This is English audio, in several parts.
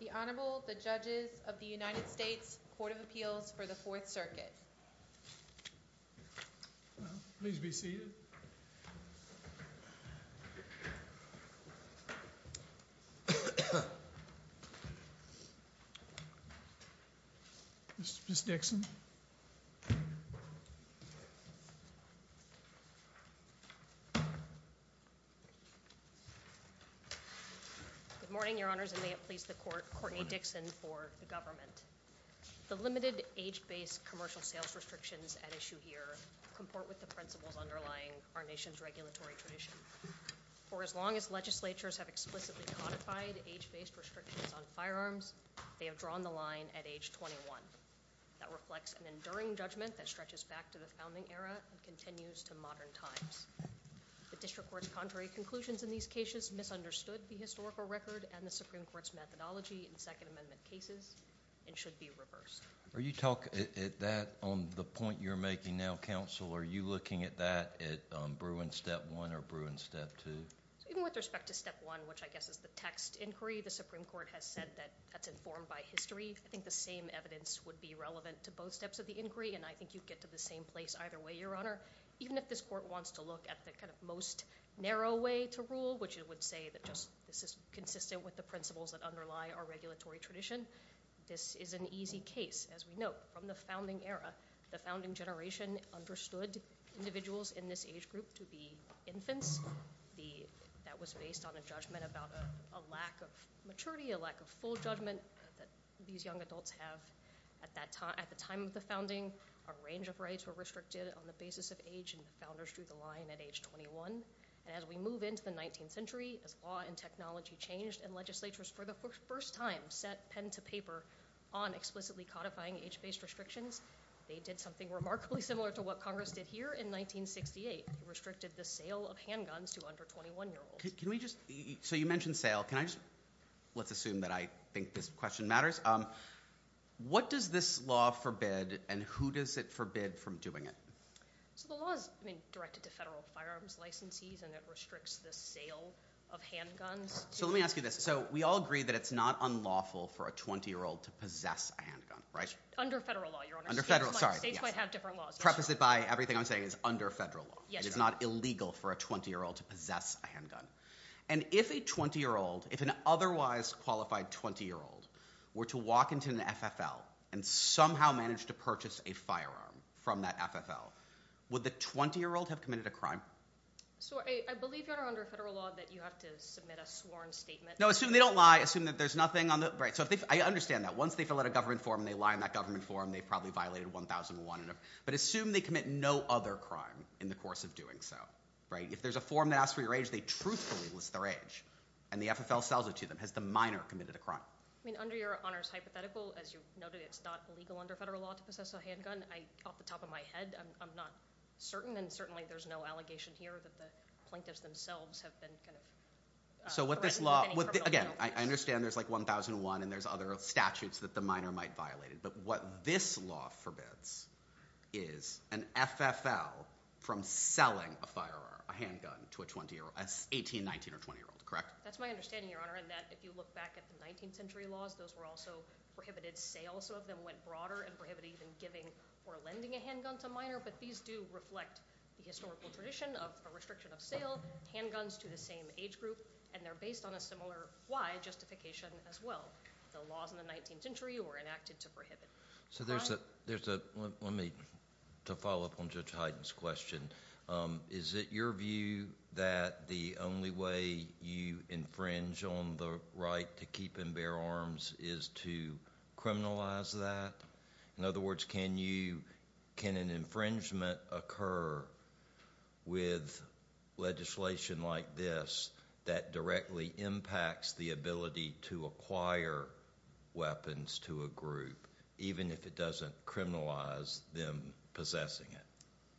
The Honorable, the Judges of the United States Court of Appeals for the Fourth Circuit. Please be seated. Ms. Dixon. Good morning, Your Honors, and may it please the Court, Courtney Dixon for the government. The limited age-based commercial sales restrictions at issue here comport with the principles underlying our nation's regulatory tradition. For as long as legislatures have explicitly codified age-based restrictions on firearms, they have drawn the line at age 21. That reflects an enduring judgment that stretches back to the founding era and continues to modern times. The district court's contrary conclusions in these cases misunderstood the historical record and the Supreme Court's methodology in Second Amendment cases and should be reversed. Are you talking at that, on the point you're making now, counsel, are you looking at that at Bruin Step 1 or Bruin Step 2? Even with respect to Step 1, which I guess is the text inquiry, the Supreme Court has said that that's informed by history. I think the same evidence would be relevant to both steps of the inquiry, and I think you'd get to the same place either way, Your Honor. Even if this Court wants to look at the kind of most narrow way to rule, which it would say that just this is consistent with the principles that underlie our regulatory tradition, this is an easy case. As we note, from the founding era, the founding generation understood individuals in this age group to be infants. That was based on a judgment about a lack of maturity, a lack of full judgment that these young adults have. At the time of the founding, a range of rights were restricted on the basis of age, and the founders drew the line at age 21. As we move into the 19th century, as law and technology changed, and legislatures for the first time set pen to paper on explicitly codifying age-based restrictions, they did something remarkably similar to what Congress did here in 1968. They restricted the sale of handguns to under 21-year-olds. Can we just... You mentioned sale. Let's assume that I think this question matters. What does this law forbid, and who does it forbid from doing it? The law is directed to federal firearms licensees, and it restricts the sale of handguns. Let me ask you this. We all agree that it's not unlawful for a 20-year-old to possess a handgun, right? Under federal law, Your Honor. Under federal, sorry. States might have different laws. Preface it by everything I'm saying is under federal law. It is not illegal for a 20-year-old to possess a handgun. If a 20-year-old, if an otherwise qualified 20-year-old were to walk into an FFL and somehow managed to purchase a firearm from that FFL, would the 20-year-old have committed a crime? I believe, Your Honor, under federal law that you have to submit a sworn statement. No, assume they don't lie. Assume that there's nothing on the... I understand that. Once they fill out a government form and they lie in that government form, they've probably violated 1001. Assume they commit no other crime in the course of doing so. If there's a form that asks for your age, they truthfully list their age, and the FFL sells it to them. Has the minor committed a crime? I mean, under Your Honor's hypothetical, as you noted, it's not illegal under federal law to possess a handgun. Off the top of my head, I'm not certain, and certainly there's no allegation here that the plaintiffs themselves have been kind of threatened with any criminal Again, I understand there's like 1001 and there's other statutes that the minor might have violated, but what this law forbids is an FFL from selling a firearm, a handgun, to an 18, 19, or 20-year-old, correct? That's my understanding, Your Honor, in that if you look back at the 19th century laws, those were also prohibited sales. Some of them went broader and prohibited even giving or lending a handgun to a minor, but these do reflect the historical tradition of a restriction of sale, handguns to the same age group, and they're based on a similar why justification as well. The laws in the 19th century were enacted to prohibit. So there's a, let me, to follow up on Judge Hyden's question, is it your view that the only way you infringe on the right to keep and bear arms is to criminalize that? In other words, can you, can an infringement occur with legislation like this that directly impacts the ability to acquire weapons to a group, even if it doesn't criminalize them possessing it?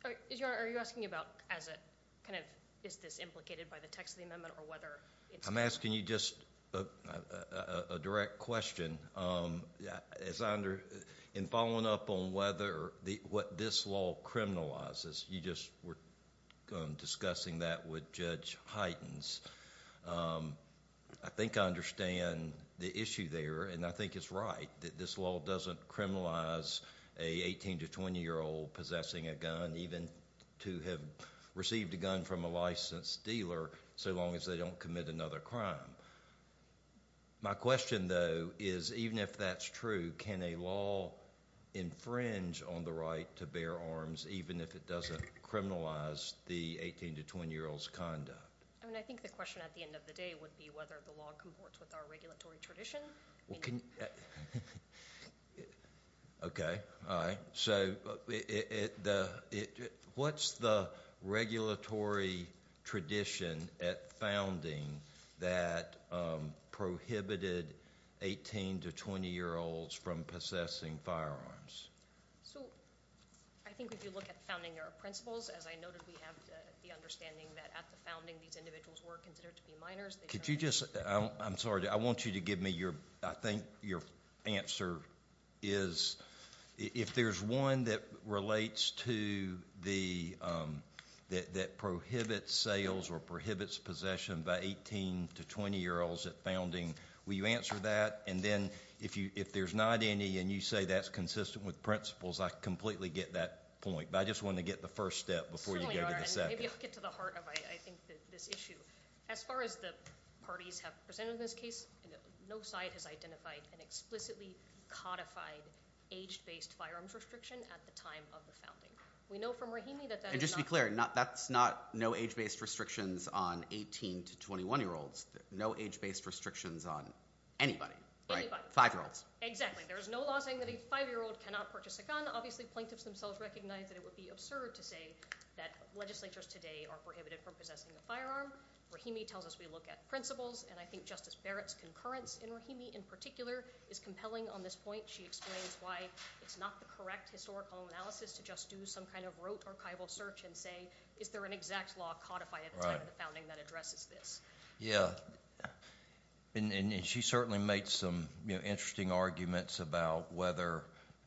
All right. Is your, are you asking about as a kind of, is this implicated by the text of the amendment, or whether it's- I'm asking you just a direct question. As I under, in following up on whether the, what this law criminalizes, you just were discussing that with Judge Hyden's. I think I understand the issue there, and I think it's right that this law doesn't criminalize a 18 to 20 year old possessing a gun, even to have received a gun from a licensed dealer, so long as they don't commit another crime. My question, though, is even if that's true, can a law infringe on the right to bear arms, even if it doesn't criminalize the 18 to 20 year old's conduct? I mean, I think the question at the end of the day would be whether the law comports with our regulatory tradition. Okay. All right. So, what's the regulatory tradition at founding that prohibited 18 to 20 year olds from possessing firearms? So, I think if you look at the founding, there are principles. As I noted, we have the understanding that at the founding, these individuals were considered to be minors. Could you just, I'm sorry, I want you to give me your, I think your answer is, if there's one that relates to the, that prohibits sales or prohibits possession by 18 to 20 year olds at founding, will you answer that? And then, if there's not any, and you say that's consistent with principles, I completely get that point, but I just wanted to get the first step before you go to the second. Certainly, and maybe you'll get to the heart of, I think, this issue. As far as the parties have presented in this case, no side has identified an explicitly codified age-based firearms restriction at the time of the founding. We know from Rahimi that that is not- And just to be clear, that's not no age-based restrictions on 18 to 21 year olds. No age-based restrictions on anybody, right? Anybody. Five year olds. Exactly. There is no law saying that a five year old cannot purchase a gun. Obviously, plaintiffs themselves recognize that it would be absurd to say that legislatures today are prohibited from possessing a firearm. Rahimi tells us we look at principles, and I think Justice Barrett's concurrence in Rahimi in particular is compelling on this point. She explains why it's not the correct historical analysis to just do some kind of rote archival search and say, is there an exact law codified at the time of the founding that addresses this? Yeah. And she certainly made some interesting arguments about whether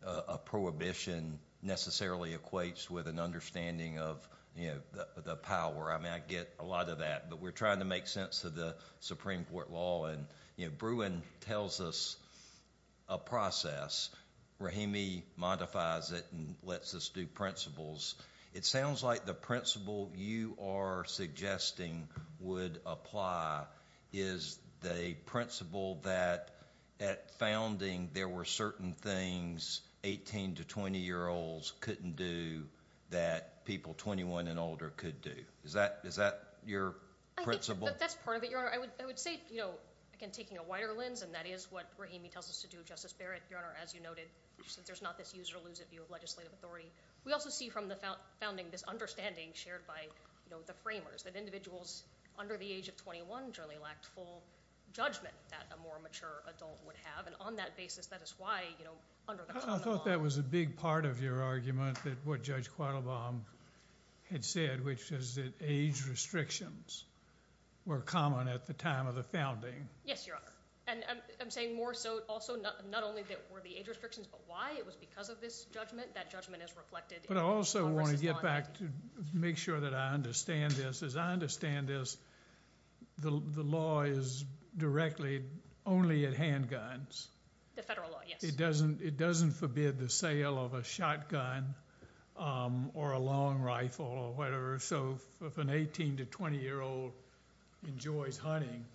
a prohibition necessarily equates with an understanding of the power. I mean, I get a lot of that, but we're trying to make sense of the Supreme Court law. Bruin tells us a process. Rahimi modifies it and lets us do principles. It sounds like the principle you are suggesting would apply is the principle that at founding, there were certain things 18 to 20 year olds couldn't do that people 21 and older could do. Is that your principle? I think that's part of it, Your Honor. I would say, you know, again, taking a wider lens, and that is what Rahimi tells us to do, Justice Barrett, Your Honor, as you noted, since there's not this use or lose of legislative authority. We also see from the founding this understanding shared by the framers, that individuals under the age of 21 generally lacked full judgment that a more mature adult would have. And on that basis, that is why, you know, under the court of law— I thought that was a big part of your argument, that what Judge Quattlebaum had said, which is that age restrictions were common at the time of the founding. Yes, Your Honor. And I'm saying more so, not only that were the age restrictions, but why it was because of this judgment. That judgment is reflected— But I also want to get back to make sure that I understand this. As I understand this, the law is directly only at handguns. The federal law, yes. It doesn't forbid the sale of a shotgun or a long rifle or whatever. So if an 18 to 20 year old enjoys hunting,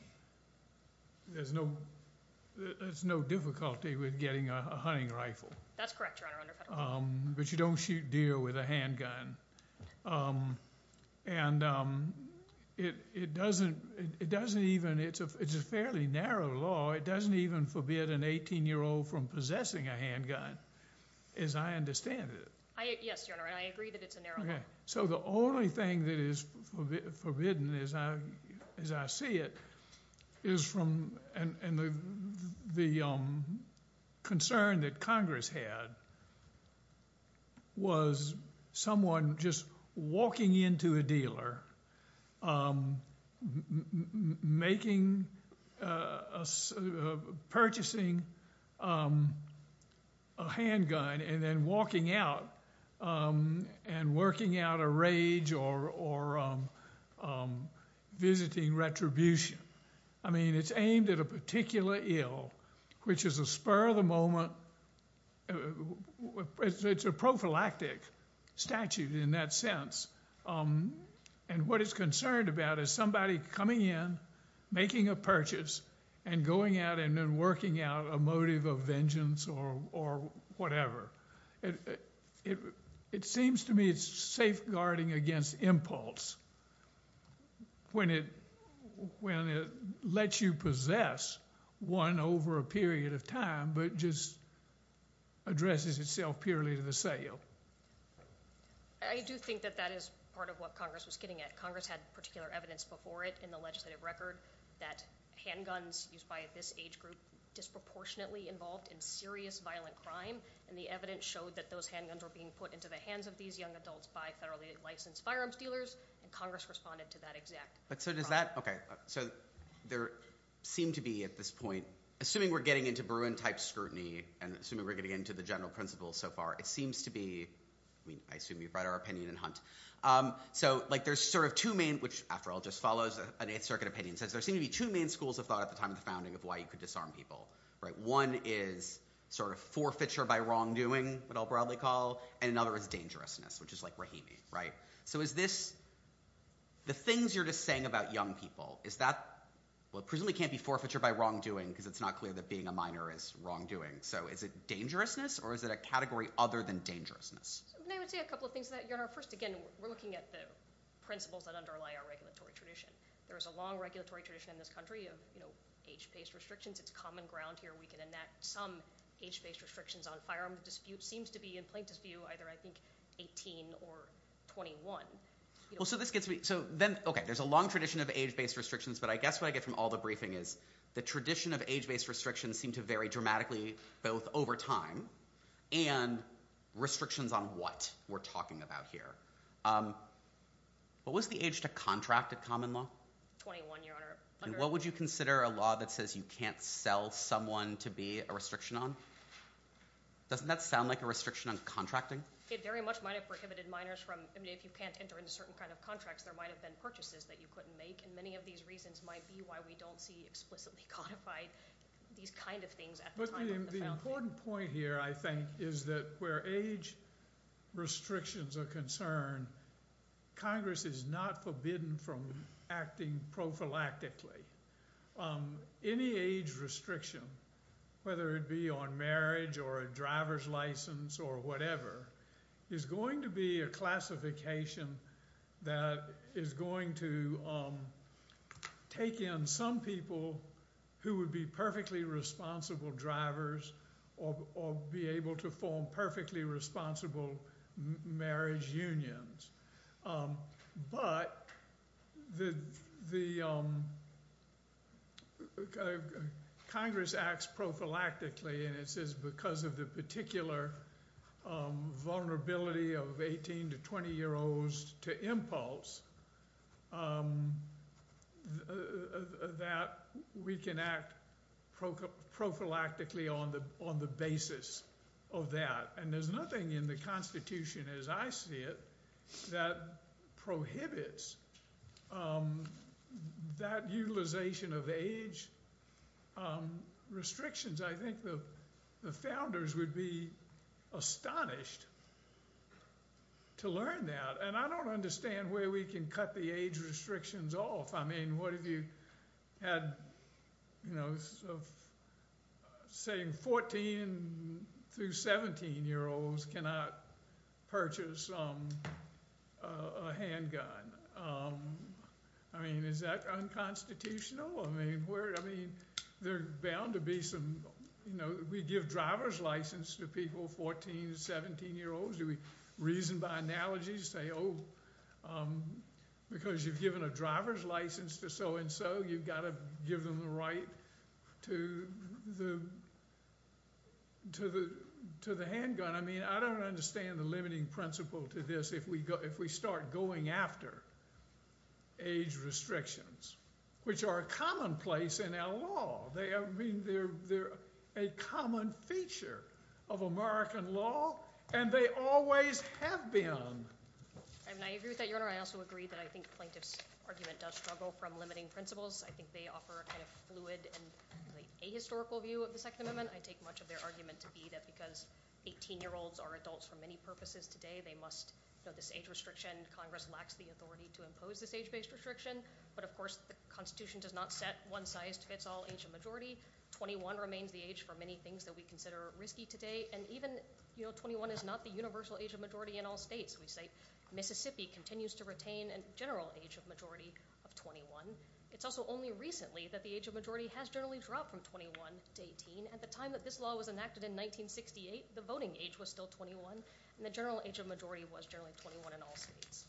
there's no difficulty with getting a hunting rifle. That's correct, Your Honor, under federal law. But you don't shoot deer with a handgun. And it doesn't even—it's a fairly narrow law. It doesn't even forbid an 18 year old from possessing a handgun, as I understand it. Yes, Your Honor, and I agree that it's a narrow law. So the only thing that is forbidden, as I see it, is from—and the concern that Congress had was someone just walking into a dealer, making—purchasing a handgun and then walking out and working out a rage or visiting retribution. I mean, it's aimed at a particular ill, which is a spur of the moment—it's a prophylactic statute in that sense. And what it's concerned about is somebody coming in, making a purchase, and going out and then working out a motive of it. It seems to me it's safeguarding against impulse when it lets you possess one over a period of time, but just addresses itself purely to the sale. I do think that that is part of what Congress was getting at. Congress had particular evidence before it in the legislative record that handguns used by this age group were disproportionately involved in serious violent crime, and the evidence showed that those handguns were being put into the hands of these young adults by federally licensed firearms dealers, and Congress responded to that exact problem. But so does that—okay, so there seemed to be at this point—assuming we're getting into Berwyn-type scrutiny and assuming we're getting into the general principles so far, it seems to be—I mean, I assume you've read our opinion in Hunt. So, like, there's sort of two main—which, after all, just follows an Eighth Circuit opinion—since there seem to be two main schools of thought at the time of the founding of why you could disarm people, right? One is sort of forfeiture by wrongdoing, what I'll broadly call, and another is dangerousness, which is like Rahimi, right? So is this—the things you're just saying about young people, is that—well, it presumably can't be forfeiture by wrongdoing because it's not clear that being a minor is wrongdoing. So is it dangerousness, or is it a category other than dangerousness? I would say a couple of things to that, Your Honor. First, again, we're looking at the principles that underlie our regulatory tradition. There is a long regulatory tradition in this country of, you know, age-based restrictions. It's common ground here. We can enact some age-based restrictions on firearms. The dispute seems to be, in Plaintiff's view, either, I think, 18 or 21. Well, so this gets me—so then, okay, there's a long tradition of age-based restrictions, but I guess what I get from all the briefing is the tradition of age-based restrictions seem to vary dramatically both over time and restrictions on what we're talking about here. What was the age to contract at common law? 21, Your Honor. And what would you consider a law that says you can't sell someone to be a restriction on? Doesn't that sound like a restriction on contracting? It very much might have prohibited minors from—I mean, if you can't enter into certain kind of contracts, there might have been purchases that you couldn't make, and many of these reasons might be why we don't see explicitly codified these kind of things at the time of the felony. The important point here, I think, is that where age restrictions are concerned, Congress is not forbidden from acting prophylactically. Any age restriction, whether it be on marriage or a driver's license or whatever, is going to be a classification that is going to take in some people who would be perfectly responsible drivers or be able to form perfectly responsible marriage unions. But the—Congress acts prophylactically, and it says because of the we can act prophylactically on the basis of that. And there's nothing in the Constitution, as I see it, that prohibits that utilization of age restrictions. I think the founders would be astonished to learn that. And I don't understand where we can cut the age restrictions off. I mean, what if you had, you know, saying 14 through 17-year-olds cannot purchase a handgun? I mean, is that unconstitutional? I mean, there are bound to be some—you know, we give driver's license to people 14 to 17-year-olds. Do we reason by analogy to say, oh, because you've given a driver's license to so-and-so, you've got to give them the right to the handgun? I mean, I don't understand the limiting principle to this if we start going after age restrictions, which are commonplace in our law. I mean, they're a common feature of American law, and they always have been. I mean, I agree with that, Your Honor. I also agree that I think the plaintiff's argument does struggle from limiting principles. I think they offer a kind of fluid and ahistorical view of the Second Amendment. I take much of their argument to be that because 18-year-olds are adults for many purposes today, they must—you know, this age restriction, Congress lacks the authority to impose this age-based restriction. But, of course, the Constitution does not set one size fits all age of majority. Twenty-one remains the age for many things that we consider risky today. And even, you know, 21 is not the universal age of majority in all We say Mississippi continues to retain a general age of majority of 21. It's also only recently that the age of majority has generally dropped from 21 to 18. At the time that this law was enacted in 1968, the voting age was still 21, and the general age of majority was generally 21 in all states.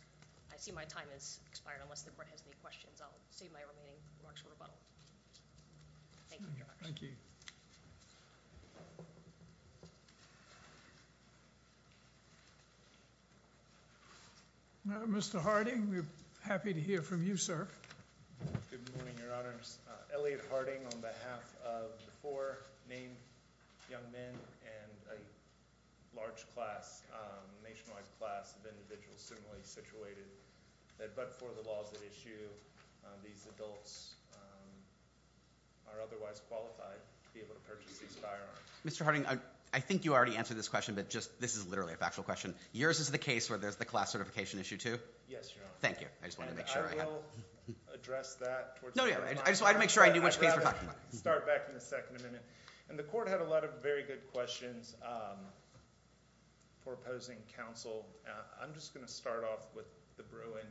I see my time has expired unless the court has any questions. I'll save my remaining remarks for rebuttal. Thank you, Your Honor. Thank you. Mr. Harding, we're happy to hear from you, sir. Good morning, Your Honors. Elliot Harding on behalf of the four named young men and a large class, a nationwide class of individuals similarly situated, but for the laws at issue, these adults are otherwise qualified to be able to purchase these firearms. Mr. Harding, I think you already answered this question, but this is literally a factual question. Yours is the case where there's the class certification issue, too? Yes, Your Honor. Thank you. I just wanted to make sure. I will address that. No, no. I just wanted to make sure I knew which case we're talking about. I'd rather start back in the Second Amendment. The court had a lot of very good questions for opposing counsel. I'm just going to start off with the Bruin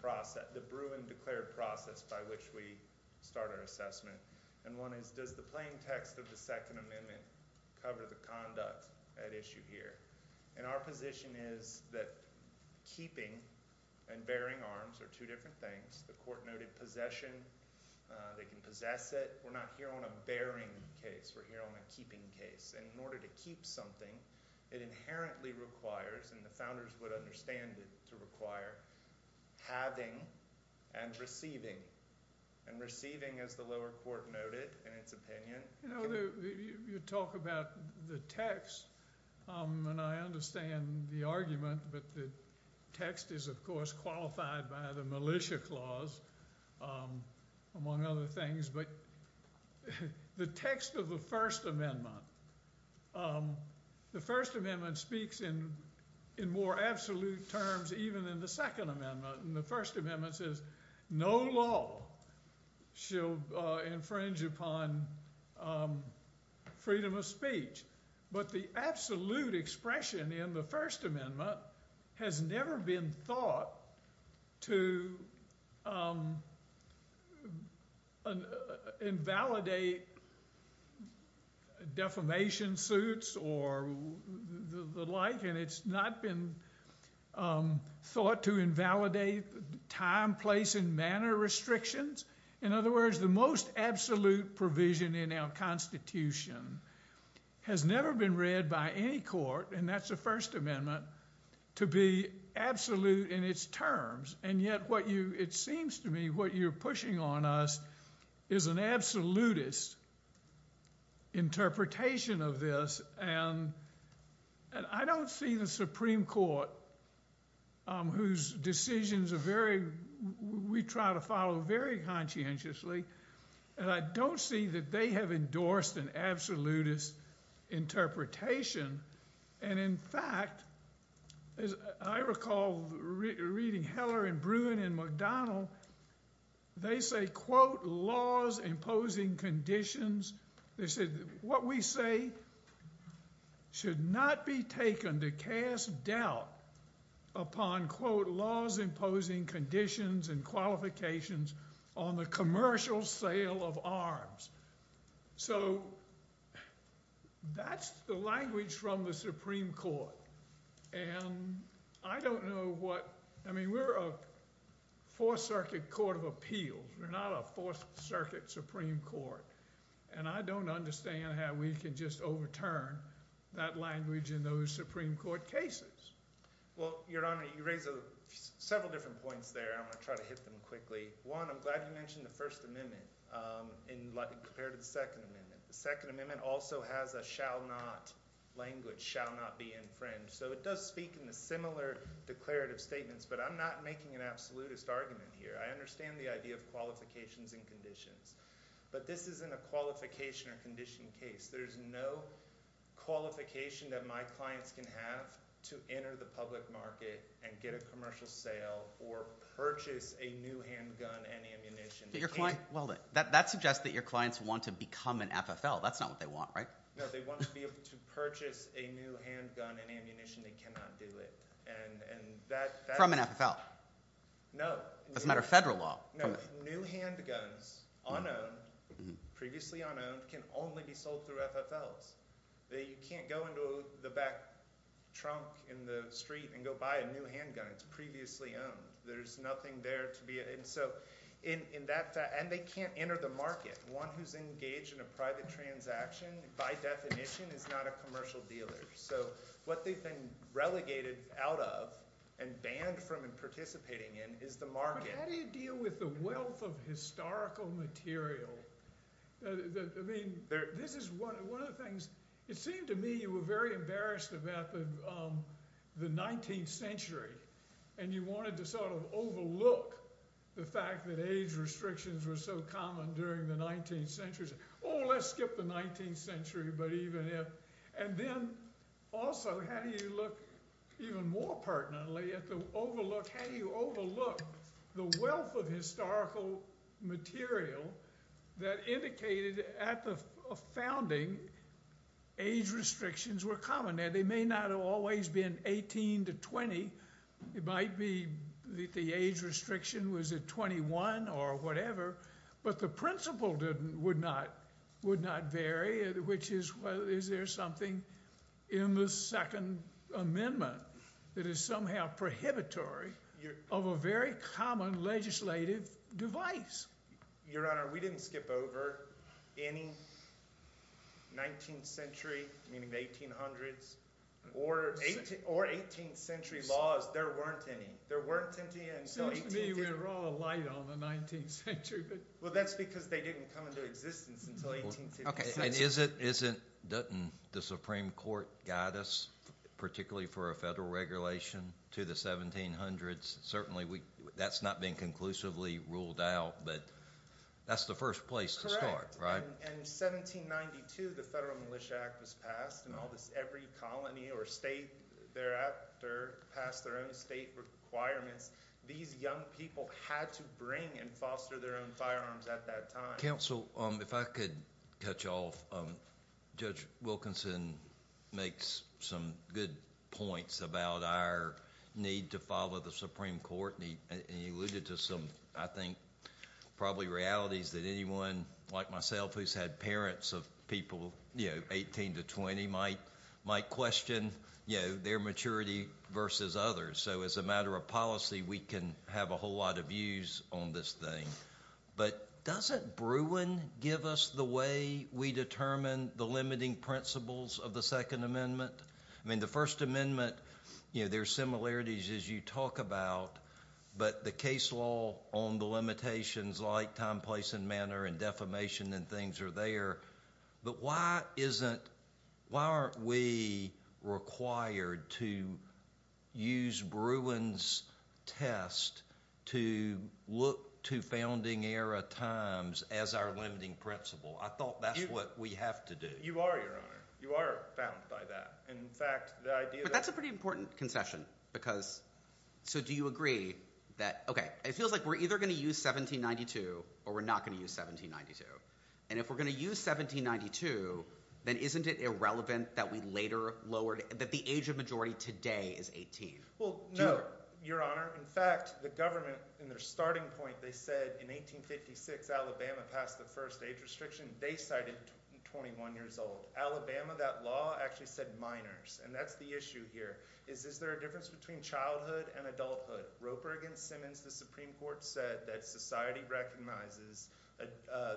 process, the Bruin declared process by which we start our assessment. One is, does the plain text of the Second Amendment cover the conduct at issue here? Our position is that keeping and bearing arms are two different things. The court noted possession. They can possess it. We're not here on a bearing case. We're here on a keeping case. In order to keep something, it inherently requires, and the founders would understand it to require, having and receiving. Receiving, as the lower court noted in its opinion... You talk about the text, and I understand the argument, but the text is, of course, qualified by the Militia Clause, among other things. The text of the First Amendment, the First Amendment speaks in more absolute terms even in the Second Amendment. The First Amendment says, no law shall infringe upon freedom of speech. But the absolute expression in the First Amendment has never been thought to invalidate defamation suits or the like, and it's not been thought to invalidate time, place, and manner restrictions. In other words, the most absolute provision in our Constitution has never been read by any court, and that's the First Amendment, to be absolute in its terms. And yet, it seems to me, what you're pushing on us is an absolutist interpretation of this, and I don't see the Supreme Court, whose decisions we try to follow very conscientiously, and I don't see that they have endorsed an absolutist interpretation. And in fact, I recall reading Heller and Bruin and McDonnell, they say, quote, laws imposing conditions. They said, what we say should not be taken to cast doubt upon, quote, laws imposing conditions and qualifications on the commercial sale of arms. So, that's the language from the Supreme Court, and I don't know what, I mean, we're a Fourth Circuit Court of Appeals, we're not a Fourth Circuit Supreme Court, and I don't understand how we can just overturn that language in those Supreme Court cases. Well, Your Honor, you raise several different points there, I'm going to try to hit them quickly. One, I'm glad you mentioned the First Amendment, compared to the Second Amendment. The Second Amendment also has a shall not language, shall not be infringed, so it does speak in the similar declarative statements, but I'm not making an absolutist argument here. I understand the idea of qualifications and conditions, but this isn't a qualification or condition case. There's no qualification that my clients can have to enter the public market and get a commercial sale, or purchase a new handgun and ammunition. Well, that suggests that your clients want to become an FFL, that's not what they want, right? No, they want to be able to purchase a new handgun and ammunition, they cannot do it. From an FFL? No. That's not a federal law. No, new handguns, unowned, previously unowned, can only be sold through FFLs. You can't go into the back trunk in the street and go buy a new handgun, it's previously owned. There's nothing there to be... And they can't enter the market. One who's engaged in a private transaction, by definition, is not a commercial dealer. So what they've been relegated out of, and banned from participating in, is the market. But how do you deal with the wealth of historical material? I mean, this is one of the things... It seemed to me you were very embarrassed about the 19th century, and you wanted to sort of overlook the fact that age restrictions were so common during the 19th century. Oh, let's skip the 19th century, but even if... And then, also, how do you look, even more pertinently, how do you overlook the wealth of historical material that indicated at the founding age restrictions were common? They may not have always been 18 to 20. It might be that the age restriction was at 21 or whatever, but the principle would not vary, which is, well, is there something in the Second Amendment that is somehow prohibitory of a very common legislative device? Your Honor, we didn't skip over any 19th century, meaning the 1800s, or 18th century laws. There weren't any. It seems to me we're all alight on the 19th century. Well, that's because they didn't come into existence until the 1850s. Doesn't the Supreme Court guide us, particularly for a federal regulation, to the 1700s? Certainly, that's not been conclusively ruled out, but that's the first place to start, right? In 1792, the Federal Militia Act was passed, and every colony or state thereafter passed their own state requirements. These young people had to bring and foster their own firearms at that time. Counsel, if I could touch off, Judge Wilkinson makes some good points about our need to follow the Supreme Court, and he alluded to some, I think, probably realities that anyone, like myself, who's had parents of people 18 to 20, might question their maturity versus others. So, as a matter of policy, we can have a whole lot of views on this thing. But doesn't Bruin give us the way we determine the limiting principles of the Second Amendment? I mean, the First Amendment, there are similarities as you talk about, but the case law on the limitations like time, place, and manner, and defamation and things are there. But why aren't we required to use Bruin's test to look to founding era times as our limiting principle? I thought that's what we have to do. You are, Your Honor. You are bound by that. But that's a pretty important concession. So do you agree that, okay, it feels like we're either going to use 1792 or we're not going to use 1792. And if we're going to use 1792, then isn't it irrelevant that the age of majority today is 18? No, Your Honor. In fact, the government, in their starting point, they said in 1856, Alabama passed the first age restriction. They cited 21 years old. Alabama, that law, actually said minors. And that's the issue here. Is there a difference between childhood and adulthood? Roper v. Simmons, the Supreme Court said that society recognizes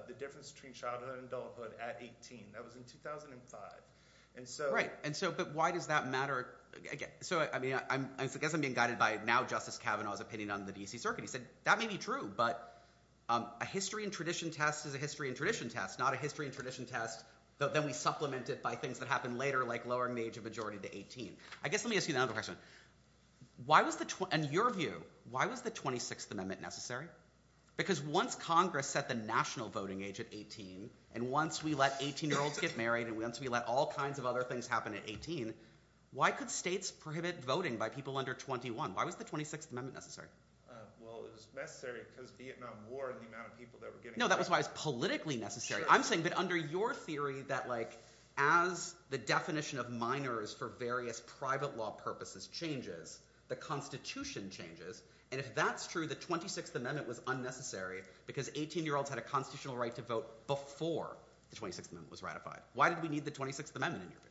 the difference between childhood and adulthood at 18. That was in 2005. Right. But why does that matter? I guess I'm being guided by now Justice Kavanaugh's opinion on the D.C. Circuit. He said, that may be true, but a history and tradition test is a history and tradition test, not a history and tradition test, though then we supplement it by things that happen later, like lowering the age of majority to 18. I guess let me ask you another question. In your view, why was the 26th Amendment necessary? Because once Congress set the national voting age at 18, and once we let 18-year-olds get married, and once we let all kinds of other things happen at 18, why could states prohibit voting by people under 21? Why was the 26th Amendment necessary? Well, it was necessary because of the Vietnam War and the amount of people that were getting married. No, that was why it was politically necessary. I'm saying that under your theory, that as the definition of minors for various private law purposes changes, the Constitution changes, and if that's true, the 26th Amendment was unnecessary because 18-year-olds had a constitutional right to vote before the 26th Amendment was ratified. Why did we need the 26th Amendment in your view?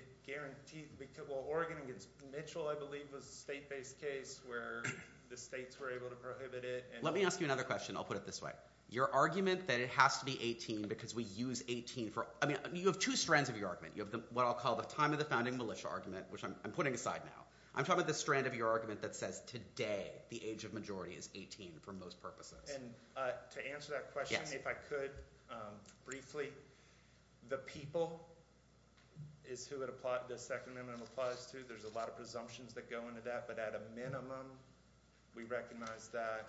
It guaranteed... Well, Oregon against Mitchell, I believe, was a state-based case where the states were able to prohibit it. Let me ask you another question. I'll put it this way. Your argument that it has to be 18 because we use 18 for... I mean, you have two strands of your argument. You have what I'll call the time-of-the-founding militia argument, which I'm putting aside now. I'm talking about the strand of your argument that says today the age of majority is 18 for most purposes. To answer that question, if I could briefly, the people is who the Second Amendment applies to. There's a lot of presumptions that go into that, but at a minimum, we recognize that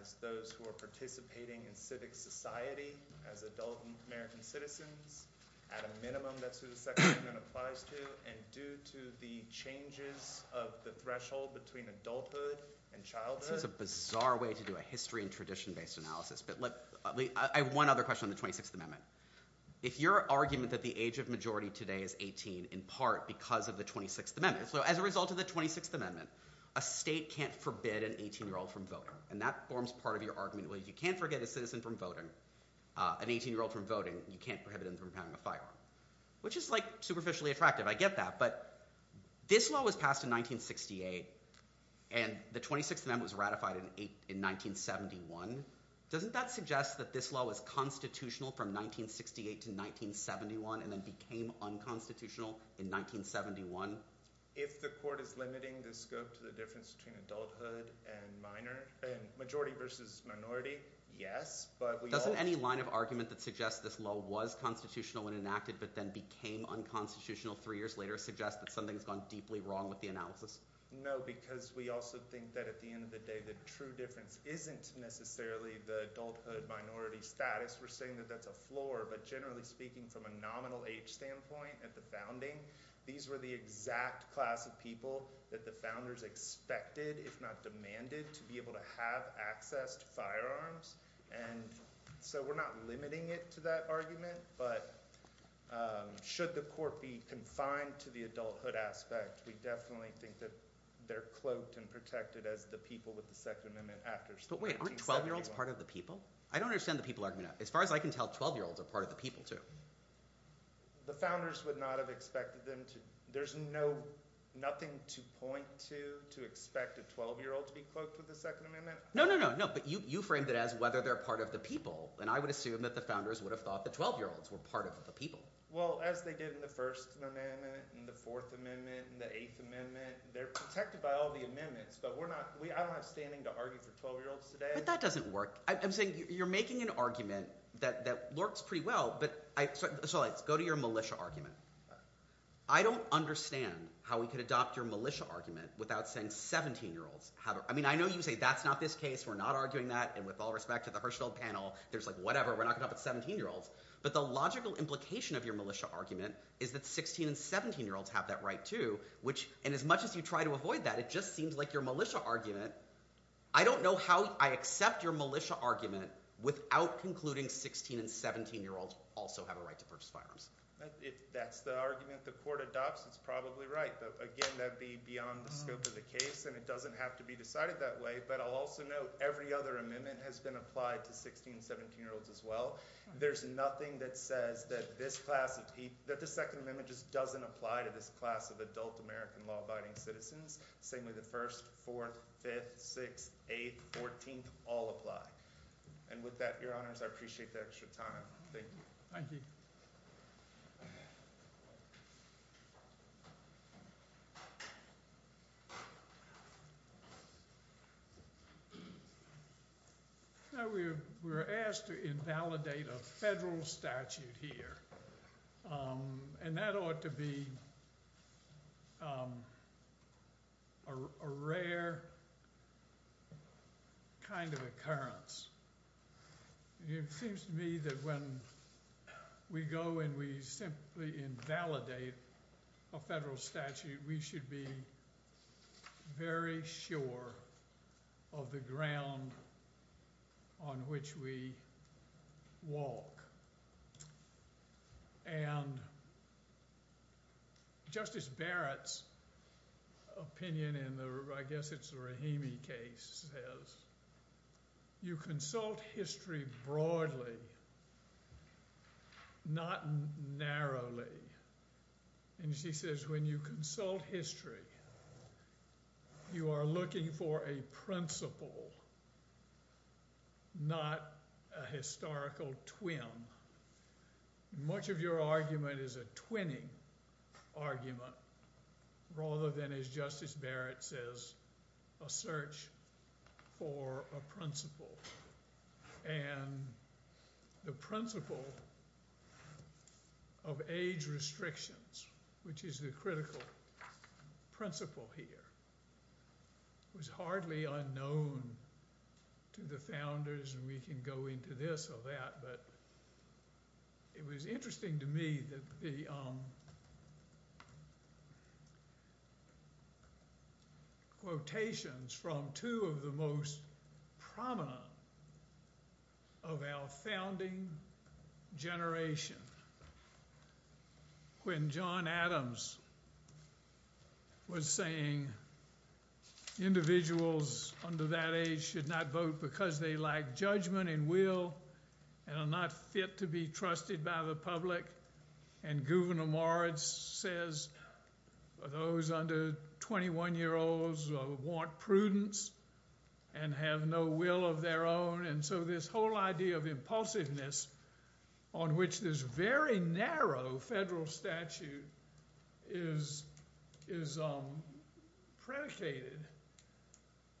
as those who are participating in civic society as adult American citizens. At a minimum, that's who the Second Amendment applies to, and due to the changes of the threshold between adulthood and childhood... This is a bizarre way to do a history and tradition-based analysis, but I have one other question on the 26th Amendment. If your argument that the age of majority today is 18 in part because of the 26th Amendment... So as a result of the 26th Amendment, a state can't forbid an 18-year-old from voting, and that forms part of your argument. You can't forbid an 18-year-old from voting. You can't prohibit him from having a firearm, which is superficially attractive. I get that, but this law was passed in 1968, and the 26th Amendment was ratified in 1971. Doesn't that suggest that this law was constitutional from 1968 to 1971 and then became unconstitutional in 1971? If the court is limiting the scope to the difference between adulthood and minority, yes, but we also... Doesn't any line of argument that suggests this law was constitutional and enacted but then became unconstitutional three years later suggest that something's gone deeply wrong with the analysis? No, because we also think that at the end of the day the true difference isn't necessarily the adulthood-minority status. We're saying that that's a floor, but generally speaking, from a nominal age standpoint, at the founding, these were the exact class of people that the founders expected, if not demanded, to be able to have access to firearms. So we're not limiting it to that argument, but should the court be confined to the adulthood aspect, we definitely think that they're cloaked and protected as the people with the Second Amendment after 1971. But wait, aren't 12-year-olds part of the people? I don't understand the people argument. As far as I can tell, 12-year-olds are part of the people, too. The founders would not have expected them to... There's nothing to point to, to expect a 12-year-old to be cloaked with the Second Amendment? No, but you framed it as whether they're part of the people, and I would assume that the founders would have thought that 12-year-olds were part of the people. Well, as they did in the First Amendment, in the Fourth Amendment, in the Eighth Amendment, they're protected by all the amendments, but I don't have standing to argue for 12-year-olds today. If that doesn't work, I'm saying you're making an argument that works pretty well, but... So let's go to your militia argument. I don't understand how we could adopt your militia argument without saying 17-year-olds have... I know you say, that's not this case, we're not arguing that, and with all respect to the Hirschfeld panel, there's like whatever, we're not going to talk about 17-year-olds, but the logical implication of your militia argument is that 16- and 17-year-olds have that right too, and as much as you try to avoid that, it just seems like your militia argument... I don't know how I accept your militia argument without concluding 16- and 17-year-olds also have a right to purchase firearms. That's the argument the court adopts, it's probably right, but again, that would be beyond the scope of the case, and it doesn't have to be decided that way, but I'll also note every other amendment has been applied to 16- and 17-year-olds as well. There's nothing that says that the 2nd Amendment just doesn't apply to this class of adult American law-abiding citizens. Same with the 1st, 4th, 5th, 6th, 8th, 14th, all apply. And with that, Your Honors, I appreciate the extra time. Thank you. Thank you. We were asked to invalidate a federal statute here, and that ought to be a rare kind of occurrence. It seems to me that when we go and we simply invalidate a federal statute, we should be very sure of the ground on which we walk. Justice Barrett's opinion in the Rahimi case says you consult history broadly, not narrowly. And she says when you consult history, you are looking for a principle, not a historical twim. Much of your argument is a twinning argument, rather than, as Justice Barrett says, a search for a principle. And the principle of age restrictions, which is the critical principle here, was hardly unknown to the founders, and we can go into this or that, but it was interesting to me that the quotations from two of the most important of our founding generation. When John Adams was saying individuals under that age should not vote because they lack judgment and will and are not fit to be trusted by the public, and Gouverneur Moritz says those under 21-year-olds want prudence and have no will of their own. And so this whole idea of impulsiveness on which this very narrow federal statute is predicated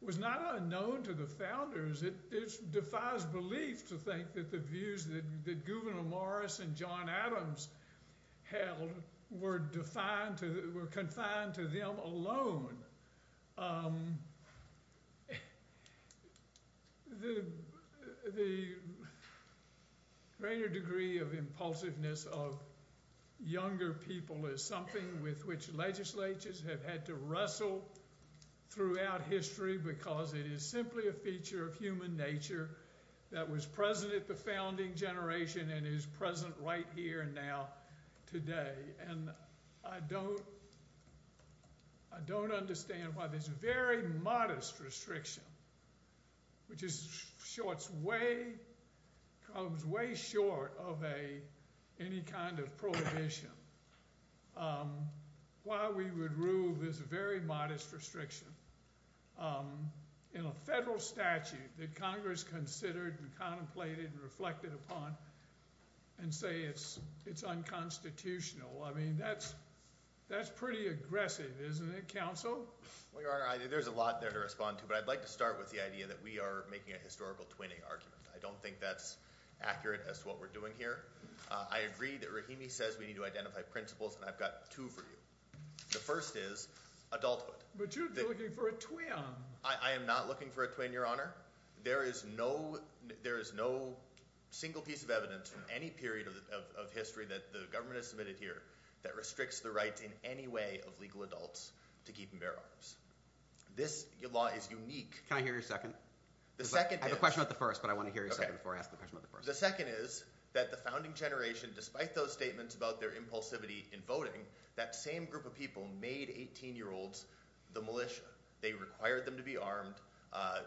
was not unknown to the founders. It defies belief to think that the views that Gouverneur Moritz and John Adams held were confined to them alone. The greater degree of impulsiveness of younger people is something with which legislatures have had to wrestle throughout history because it is simply a feature of human nature that was present at the founding generation and is present right here and now today. And I don't understand why this very modest restriction, which is way short of any kind of prohibition, why we would rule this very modest restriction in a federal statute that Congress considered and contemplated and reflected upon and say it's unconstitutional. That's pretty aggressive, isn't it, Counsel? Well, Your Honor, there's a lot there to respond to, but I'd like to start with the idea that we are making a historical twinning argument. I don't think that's accurate as to what we're doing here. I agree that Rahimi says we need to identify principles and I've got two for you. The first is adulthood. But you're looking for a twin. I am not looking for a twin, Your Honor. There is no single piece of evidence in any period of history that the government has submitted here that restricts the rights in any way of legal adults to keep and bear arms. This law is unique. Can I hear your second? I have a question about the first, but I want to hear your second before I ask the question about the first. The second is that the founding generation, despite those statements about their impulsivity in voting, that same group of people made 18-year-olds the militia. They required them to be armed.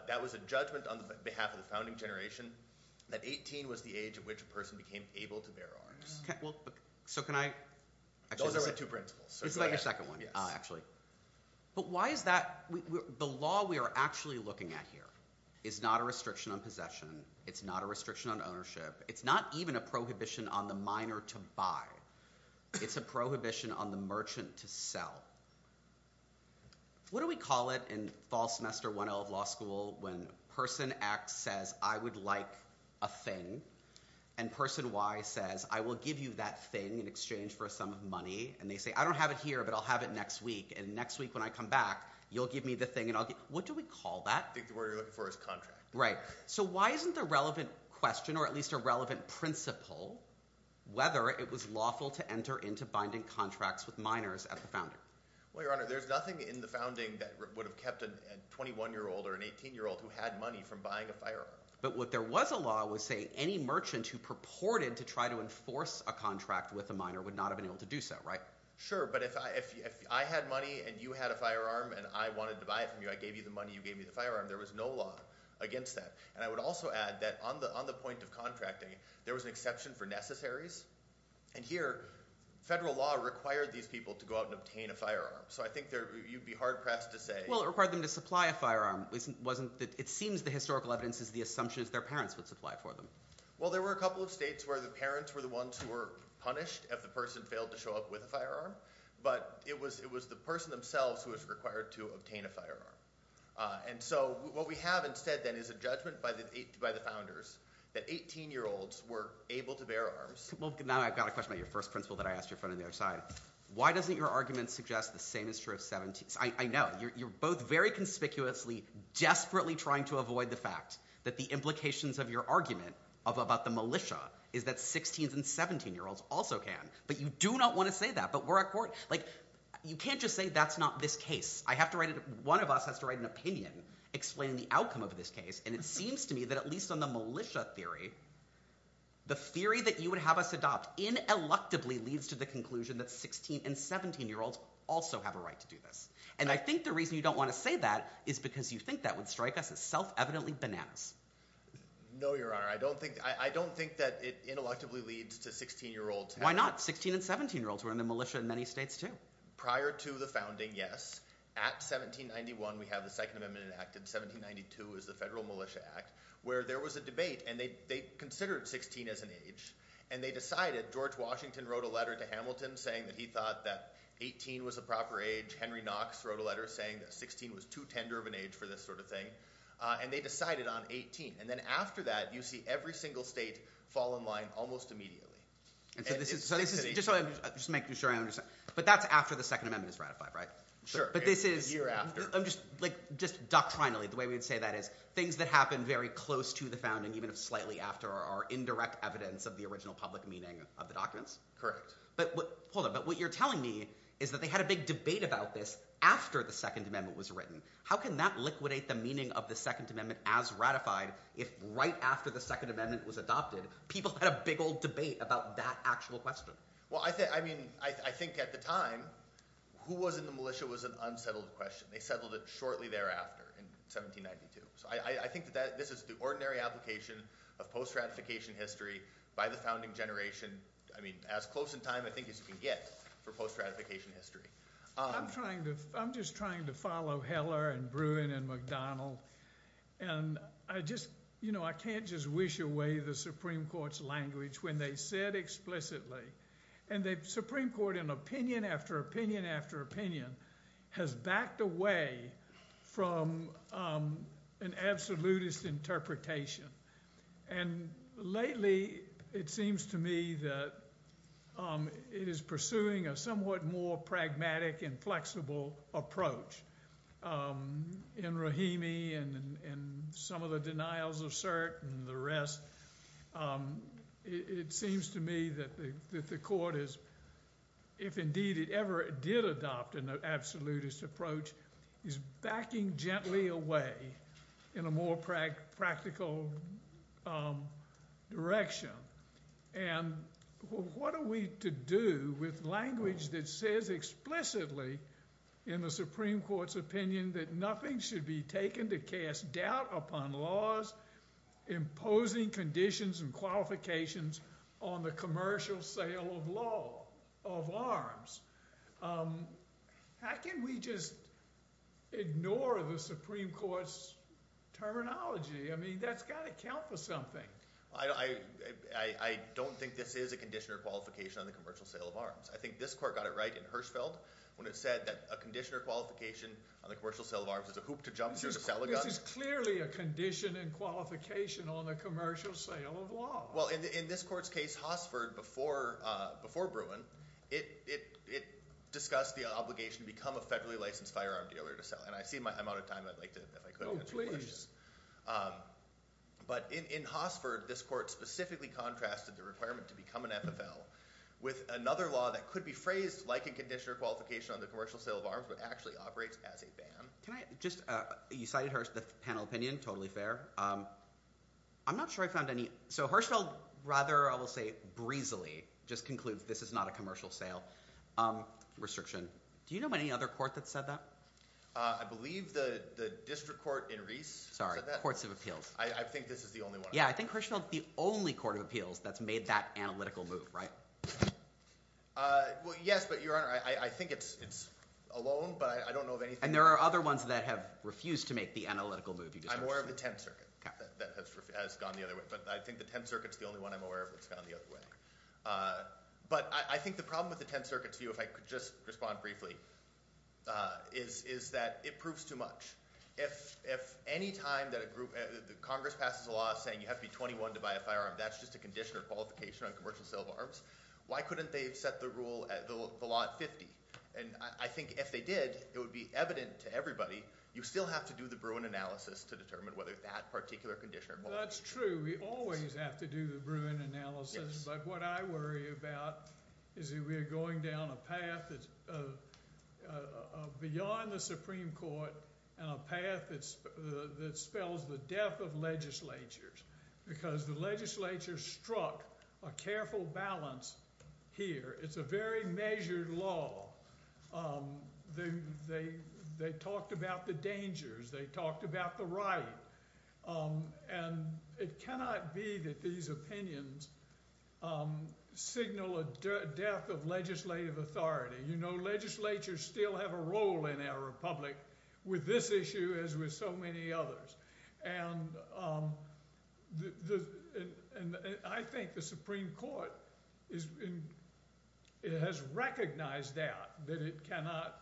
That was a judgment on behalf of the founding generation that 18 was the age at which a person became able to bear arms. Those are my two principles. Go ahead. The law we are actually looking at here is not a restriction on possession. It's not a restriction on ownership. It's not even a prohibition on the miner to buy. It's a prohibition on the merchant to sell. What do we call it in fall semester 1L of law school when person X says, I would like a thing, and person Y says, I will give you that thing in exchange for some money, and they say, I don't have it here, but I'll have it next week, and next week when I come back, you'll give me the thing. What do we call that? I think the word you're looking for is contract. Why isn't the relevant question or at least a relevant principle whether it was lawful to enter into binding contracts with miners at the founding? There's nothing in the founding that would have kept a 21-year-old or an 18-year-old who had money from buying a firearm. But what there was a law was saying any merchant who purported to try to enforce a contract with a miner would not have been able to do so, right? Sure, but if I had money and you had a firearm and I wanted to buy it from you, I gave you the money, you gave me the firearm, there was no law against that. And I would also add that on the point of contracting, there was an exception for necessaries. And here, federal law required these people to go out and obtain a firearm. So I think you'd be hard-pressed to say... Well, it required them to supply a firearm. It seems the historical evidence is the assumptions their parents would supply for them. Well, there were a couple of states where the parents were the ones who were punished if the person failed to show up with a firearm, but it was the person themselves who was required to obtain a firearm. And so what we have instead, then, is a judgment by the founders that 18-year-olds were able to bear arms... Now I've got a question about your first principle that I asked your friend on the other side. Why doesn't your argument suggest the same is true of 17... I know, you're both very conspicuously, desperately trying to avoid the fact that the implications of your argument about the militia is that 16s and 17-year-olds also can. But you do not want to say that. You can't just say, that's not this case. One of us has to write an opinion explaining the outcome of this case. And it seems to me that at least on the militia theory, the theory that you would have us adopt ineluctably leads to the conclusion that 16 and 17-year-olds also have a right to do this. And I think the reason you don't want to say that is because you think that would strike us as self-evidently bananas. No, Your Honor. I don't think that it ineluctably leads to 16-year-olds having... Why not? 16 and 17-year-olds were in the militia in many states too. Prior to the founding, yes. At 1791, we have the Second Amendment Act. In 1792 is the Federal Militia Act, where there was a debate and they considered 16 as an age. And they decided, George Washington wrote a letter to Hamilton saying that he thought that 18 was the proper age. Henry Knox wrote a letter saying that 16 was too tender of an age for this sort of thing. And they decided on 18. And then after that, you see every single state fall in line almost immediately. Just to make sure I understand. But that's after the Second Amendment is ratified, right? Sure. It's a year after. Just doctrinally, the way we would say that is, things that happen very close to the founding, even if slightly after, are indirect evidence of the original public meaning of the documents. Correct. But what you're telling me is that they had a big debate about this after the Second Amendment was written. How can that liquidate the meaning of the Second Amendment as ratified if right after the Second Amendment was adopted, people had a big old debate about that actual question? I think at the time, who was in the militia was an unsettled question. They settled it shortly thereafter, in 1792. I think that this is the ordinary application of post-ratification history by the founding generation. I mean, as close in time, I think, as you can get for post-ratification history. I'm just trying to follow Heller and Bruin and McDonnell. I can't just wish away the Supreme Court's language when they said explicitly. And the Supreme Court, in opinion after opinion after opinion, has backed away from an absolutist interpretation. And lately, it seems to me that it is pursuing a somewhat more pragmatic and flexible approach. In Rahimi and some of the denials of cert and the rest, it seems to me that the Court has, if indeed it ever did adopt an absolutist approach, is backing gently away in a more practical direction. And what are we to do with language that says explicitly in the Supreme Court's opinion that nothing should be taken to cast doubt upon laws imposing conditions and qualifications on the commercial sale of law, of arms? How can we just ignore the Supreme Court's terminology? I mean, that's got to count for something. I don't think this is a condition or qualification on the commercial sale of arms. I think this Court got it right in Hirschfeld when it said that a condition or qualification on the commercial sale of arms is a hoop to jump. This is clearly a condition and qualification on the commercial sale of arms. In this Court's case, Hossford, before Bruin, it discussed the obligation to become a federally licensed firearm dealer to sell. I'm out of time. In Hossford, this Court specifically contrasted the requirement to become an FFL with another law that could be phrased like a condition or qualification on the commercial sale of arms but actually operates as a ban. You cited the panel opinion. Totally fair. So Hirschfeld rather, I will say, breezily just concludes this is not a commercial sale restriction. Do you know of any other Court that said that? I believe the District Court in Reese said that. I think this is the only one. Yeah, I think Hirschfeld is the only Court of Appeals that's made that analytical move, right? Yes, but Your Honor, I think it's alone, but I don't know of anything. And there are other ones that have refused to make the analytical move. I'm aware of the Tenth Circuit that has gone the other way, but I think the Tenth Circuit is the only one I'm aware of that's gone the other way. But I think the problem with the Tenth Circuit, to you, if I could just respond briefly, is that it proves too much. If any time that Congress passes a law saying you have to be 21 to buy a firearm, that's just a condition or qualification on commercial sale of arms, why couldn't they have set the law at 50? And I think if they did, it would be evident to everybody you still have to do the Bruin analysis to determine whether that particular condition or qualification. That's true. We always have to do the Bruin analysis, but what I worry about is that we're going down a path beyond the Supreme Court and a path that spells the death of legislatures. Because the legislature struck a careful balance here. It's a very measured law. They talked about the dangers. They talked about the right. And it cannot be that these opinions signal a death of legislative authority. Legislatures still have a role in our Republic with this issue, as with so many others. I think the Supreme Court has recognized that that it cannot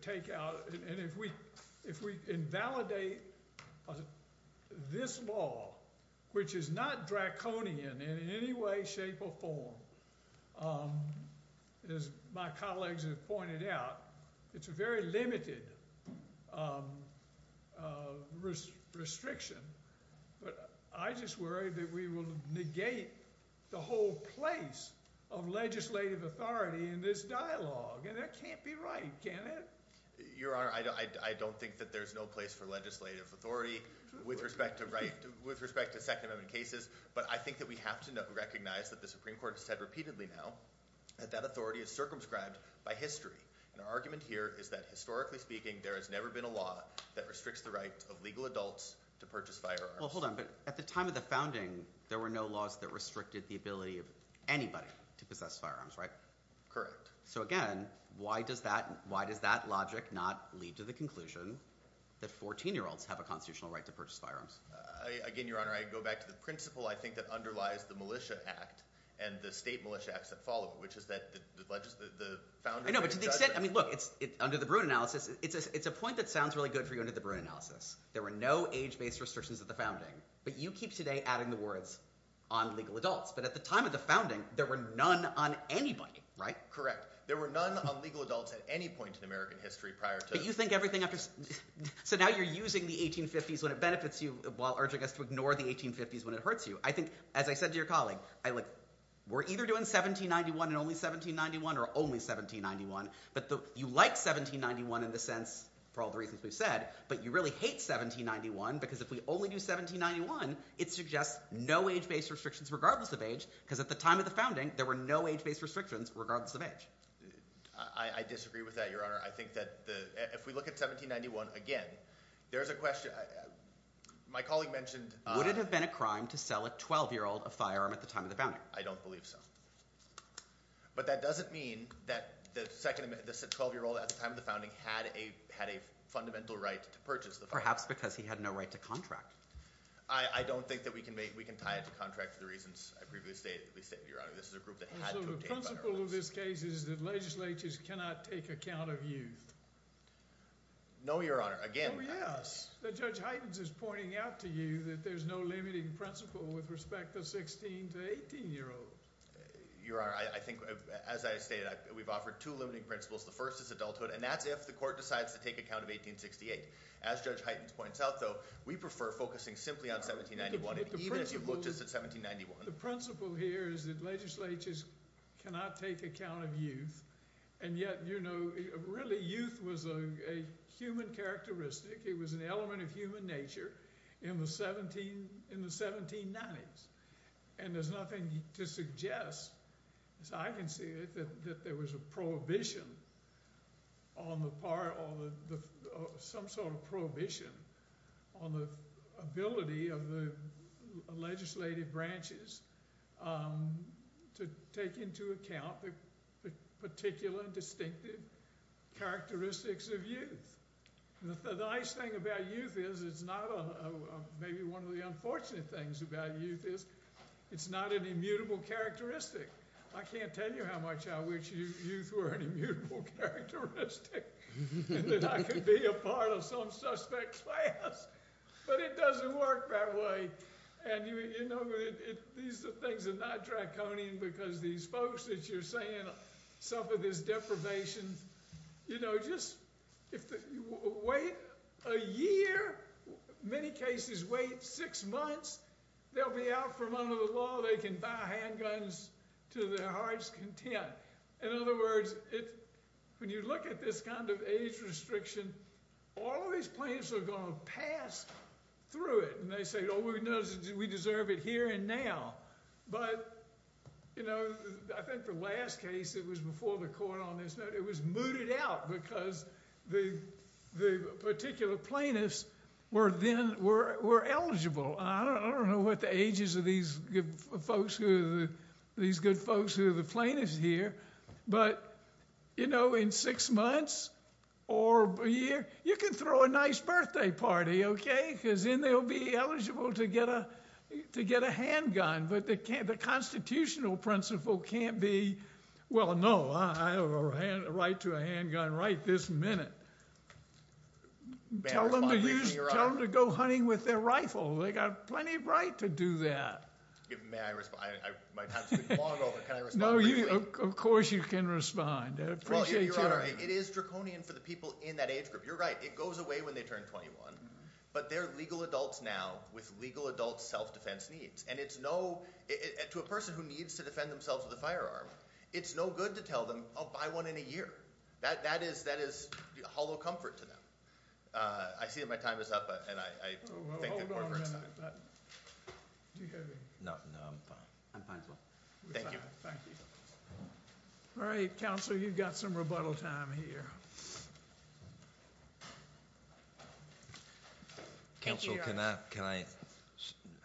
take out and if we invalidate this law, which is not draconian in any way, shape or form as my colleagues have pointed out it's a very limited restriction. I just worry that we will negate the whole place of legislative authority in this dialogue. And that can't be right, can it? Your Honor, I don't think that there's no place for legislative authority with respect to Second Amendment cases. But I think that we have to recognize that the Supreme Court has said repeatedly now that that authority is circumscribed by history. And our argument here is that historically speaking there has never been a law that restricts the right of legal adults to purchase firearms. Well, hold on. But at the time of the founding there were no laws that restricted the ability of anybody to possess firearms, right? Correct. So again, why does that logic not lead to the conclusion that 14-year-olds have a constitutional right to purchase firearms? Again, Your Honor, I go back to the principle I think that underlies the Militia Act and the State Militia Acts that follow it, which is that the founders... I know, but to the extent, I mean, look, under the Bruin analysis, it's a point that sounds really good for you under the Bruin analysis. There were no age-based restrictions at the founding. But you keep today adding the words, on legal adults. But at the time of the founding, there were none on anybody, right? Correct. There were none on legal adults at any point in American history prior to... So now you're using the 1850s when it benefits you while urging us to ignore the 1850s when it hurts you. As I said to your colleague, we're either doing 1791 and only 1791 or only 1791. But you like 1791 in the sense, for all the reasons we've said, but you really hate 1791 because if we only do 1791 it suggests no age-based restrictions regardless of age because at the time of the founding, there were no age-based restrictions regardless of age. I disagree with that, Your Honor. I think that if we look at 1791 again, there's a question... My colleague mentioned... Would it have been a crime to sell a 12-year-old a firearm at the time of the founding? I don't believe so. But that doesn't mean that the 12-year-old at the time of the founding had a fundamental right to purchase the firearm. Perhaps because he had no right to contract. I don't think that we can tie it to contract for the reasons I previously stated. Your Honor, this is a group that had to obtain firearms. So the principle of this case is that legislatures cannot take account of youth? No, Your Honor. Again... Oh, yes. But Judge Heitens is pointing out to you that there's no limiting principle with respect to 16- to 18-year-olds. Your Honor, I think, as I stated, we've offered two limiting principles. The first is adulthood. And that's if the court decides to take account of 1868. As Judge Heitens points out, though, we prefer focusing simply on 1791. Even if you've looked just at 1791. The principle here is that legislatures cannot take account of youth. And yet, you know... Really, youth was a human characteristic. It was an element of human nature in the 1790s. And there's nothing to suggest, as I can see it, that there was a prohibition on the part... Some sort of prohibition on the ability of the legislative branches to take into account the particular and distinctive characteristics of youth. The nice thing about youth is it's not a... Maybe one of the unfortunate things about youth is it's not an immutable characteristic. I can't tell you how much I wish youth were an immutable characteristic. And that I could be a part of some suspect class. But it doesn't work that way. These are things that are not draconian because these folks that you're saying suffer this deprivation. Wait a year? Many cases wait six months. They'll be out from under the law. They can buy handguns to their heart's content. In other words, when you look at this kind of age restriction, all of these plaintiffs are going to pass through it. And they say, oh, we deserve it here and now. But I think the last case, it was before the court on this note, it was mooted out because the particular plaintiffs were eligible. I don't know what the ages of these good folks who are the plaintiffs here, but in six months or a year, you can throw a nice birthday party, okay? Because then they'll be eligible to get a handgun. But the constitutional principle can't be, well, no, I have a right to a handgun right this minute. Tell them to go hunting with their rifle. They got plenty of right to do that. May I respond? Of course you can respond. It is draconian for the people in that age group. You're right, it goes away when they turn 21. But they're legal adults now with legal adult self-defense needs. To a person who needs to defend themselves with a firearm, it's no good to tell them, I'll buy one in a year. That is hollow comfort to them. I see that my time is up. Hold on a minute. No, I'm fine. Thank you. All right, counsel, you've got some rebuttal time here. Counsel, can I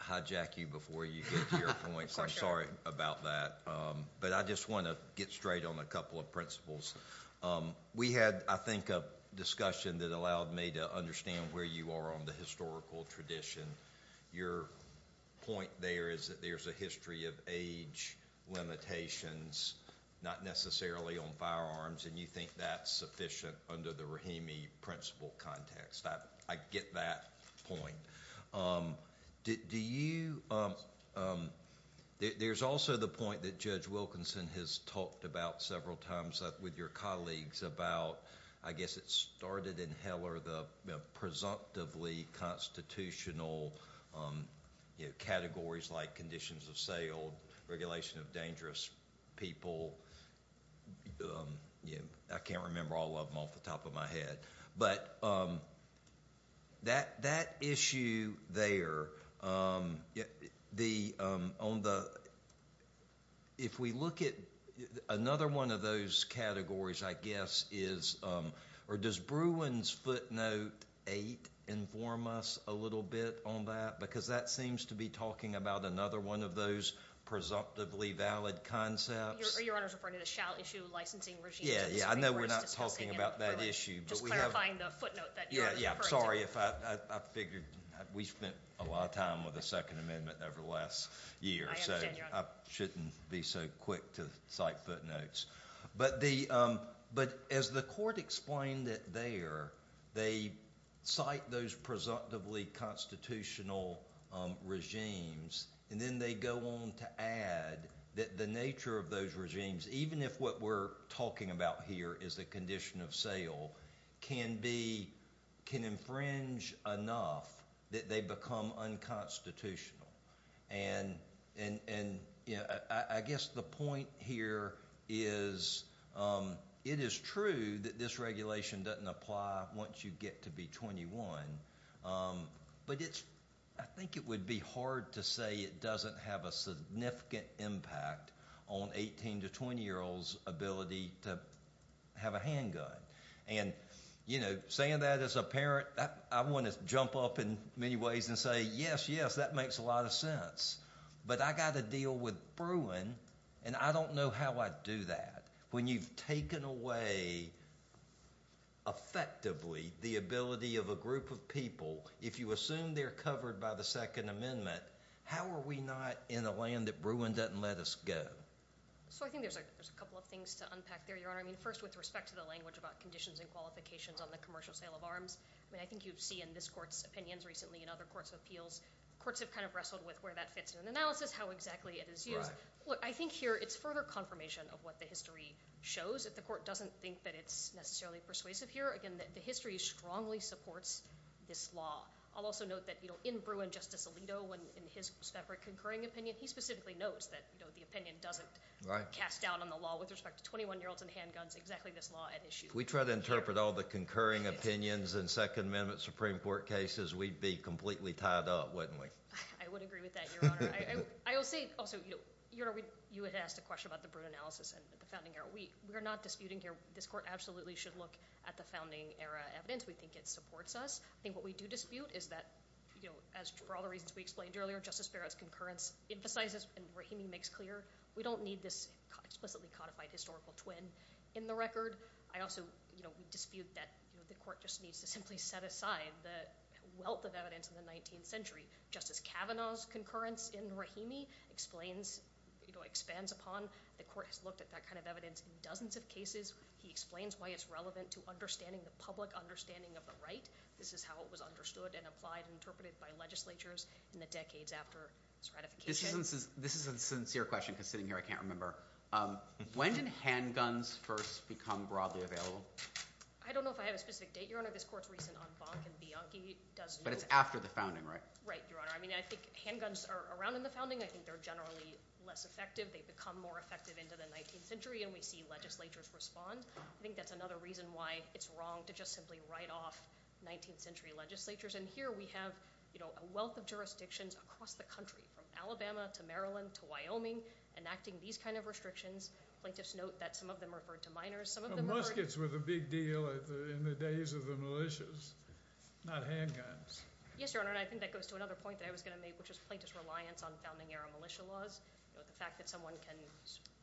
hijack you before you get to your points? I'm sorry about that. But I just want to get straight on a couple of principles. We had, I think, a discussion that allowed me to understand where you are on the historical tradition. Your point there is that there's a history of age limitations not necessarily on firearms. And you think that's sufficient under the Rahimi principle context. I get that point. Do you There's also the point that Judge Wilkinson has talked about several times with your colleagues about, I guess it started in Heller, the presumptively constitutional categories like conditions of sale, regulation of dangerous people, I can't remember all of them off the top of my head. But that issue there, if we look at another one of those categories, I guess, or does Bruin's footnote 8 inform us a little bit on that? Because that seems to be talking about another one of those presumptively valid concepts. I know we're not talking about that issue. Just clarifying the footnote that you're referring to. We spent a lot of time with the Second Amendment over the last year, so I shouldn't be so quick to cite footnotes. But as the Court explained it there, they cite those presumptively constitutional regimes and then they go on to add that the nature of those regimes, even if what we're talking about here is the condition of sale, can infringe enough that they become unconstitutional. I guess the point here is it is true that this regulation doesn't apply once you get to be 21, but I think it would be hard to say it doesn't have a significant impact on 18- to 20-year-olds' ability to have a handgun. Saying that as a parent, I want to jump up in many ways and say, yes, yes, that makes a lot of sense. But I've got to deal with Bruin, and I don't know how I do that. When you've taken away effectively the ability of a group of people, if you assume they're covered by the Second Amendment, how are we not in a land that Bruin doesn't let us go? I think there's a couple of things to unpack there, Your Honor. First, with respect to the language about conditions and qualifications on the commercial sale of arms, I think you've seen in this Court's opinions recently and other Courts of Appeals, the Courts have wrestled with where that fits in an analysis, how exactly it is used. Look, I think here it's further confirmation of what the history shows. If the Court doesn't think that it's necessarily persuasive here, again, the history strongly supports this law. I'll also note that in Bruin, Justice Alito, in his separate concurring opinion, he specifically notes that the opinion doesn't cast doubt on the law with respect to 21-year-olds and handguns, exactly this law at issue. If we try to interpret all the concurring opinions in Second Amendment Supreme Court cases, we'd be completely tied up, wouldn't we? I would agree with that, Your Honor. You had asked a question about the Bruin analysis and the Founding Era. We are not disputing here. This Court absolutely should look at the Founding Era evidence. We think it supports us. I think what we do dispute is that, for all the reasons we explained earlier, Justice Barrett's concurrence emphasizes and Rahimi makes clear we don't need this explicitly codified historical twin in the record. I also dispute that the Court just needs to simply set aside the wealth of evidence in the 19th century. Justice Kavanaugh's concurrence in Rahimi expands upon. The Court has looked at that kind of evidence in dozens of cases. He explains why it's relevant to understanding the public understanding of the right. This is how it was understood and applied and interpreted by legislatures in the decades after its ratification. This is a sincere question because sitting here I can't remember. When did handguns first become broadly available? I don't know if I have a specific date, Your Honor. This Court's recent on Bonk and Bianchi. But it's after the Founding, right? Right, Your Honor. I think handguns are around in the Founding. I think they're generally less effective. They've become more effective into the 19th century and we see legislatures respond. I think that's another reason why it's wrong to just simply write off 19th century legislatures. Here we have a wealth of jurisdictions across the country from Alabama to Maryland to Wyoming enacting these kind of restrictions. Plaintiffs note that some of them referred to minors. Muskets were the big deal in the days of the militias. Not handguns. Yes, Your Honor. I think that goes to another point that I was going to make which is plaintiffs' reliance on Founding-era militia laws. The fact that someone can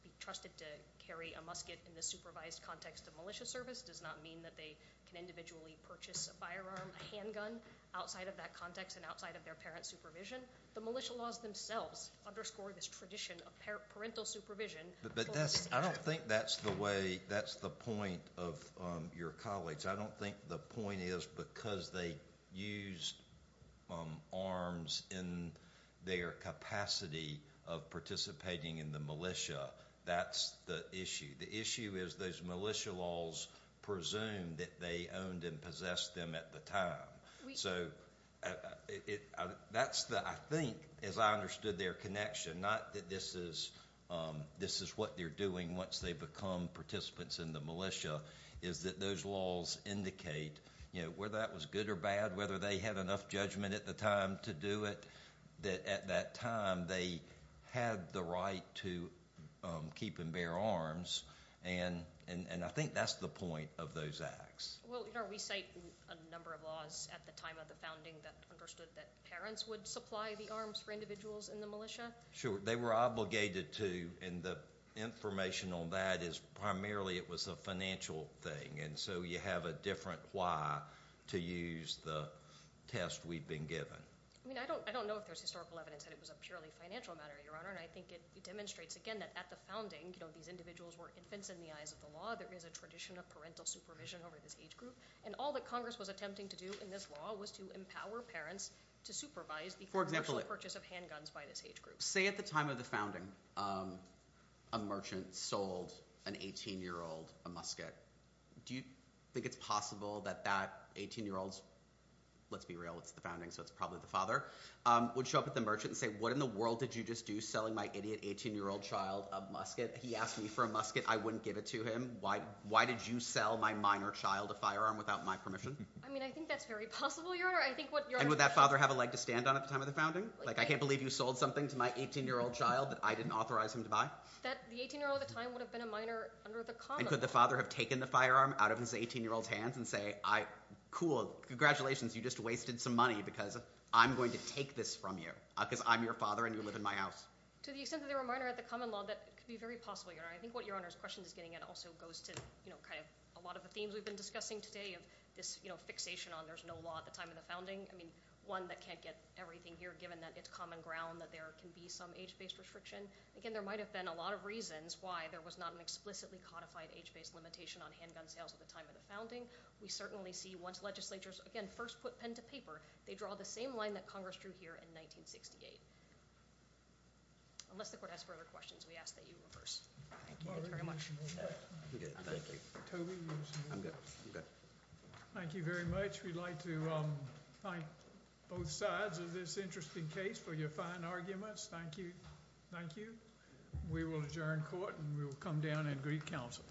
be trusted to carry a musket in the supervised context of militia service does not mean that they can individually purchase a firearm, a handgun outside of that context and outside of their parent's supervision. The militia laws themselves underscore this tradition of parental supervision. I don't think that's the point of your colleagues. I don't think the point is because they used arms in their capacity of participating in the militia. That's the issue. The issue is those militia laws presume that they owned and possessed them at the time. I think, as I understood their connection not that this is what they're doing once they become participants in the militia is that those laws indicate whether that was good or bad, whether they had enough judgment at the time to do it that at that time they had the right to keep and bear arms and I think that's the point of those acts. Well, we cite a number of laws at the time of the founding that understood that parents would supply the arms for individuals in the militia. Sure. They were obligated to and the information on that is primarily it was a financial thing and so you have a different why to use the test we've been given. I mean, I don't know if there's historical evidence that it was a purely financial matter, Your Honor I think it demonstrates, again, that at the founding these individuals were infants in the eyes of the law there is a tradition of parental supervision over this age group and all that Congress was attempting to do in this law was to empower parents to supervise the purchase of handguns by this age group. Say at the time of the founding a merchant sold an 18-year-old a musket do you think it's possible that that 18-year-old let's be real, it's the founding, so it's probably the father would show up at the merchant and say, what in the world did you just do selling my idiot 18-year-old child a musket? He asked me for a musket, I wouldn't give it to him why did you sell my minor child a firearm without my permission? I mean, I think that's very possible, Your Honor And would that father have a leg to stand on at the time of the founding? Like, I can't believe you sold something to my 18-year-old child that I didn't authorize him to buy? The 18-year-old at the time would have been a minor under the common law And could the father have taken the firearm out of his 18-year-old's hands and say, cool, congratulations, you just wasted some money because I'm going to take this from you because I'm your father and you live in my house? To the extent that they were minor under the common law, that could be very possible, Your Honor I think what Your Honor's question is getting at also goes to a lot of the themes we've been discussing today this fixation on there's no law at the time of the founding one that can't get everything here, given that it's common ground that there can be some age-based restriction Again, there might have been a lot of reasons why there was not an explicitly codified age-based limitation on handgun sales at the time of the founding We certainly see once legislatures, again, first put pen to paper they draw the same line that Congress drew here in 1968 Unless the Court has further questions, we ask that you reverse Thank you very much Thank you Thank you very much We'd like to thank both sides of this interesting case for your fine arguments We will adjourn court and we will come down and greet counsel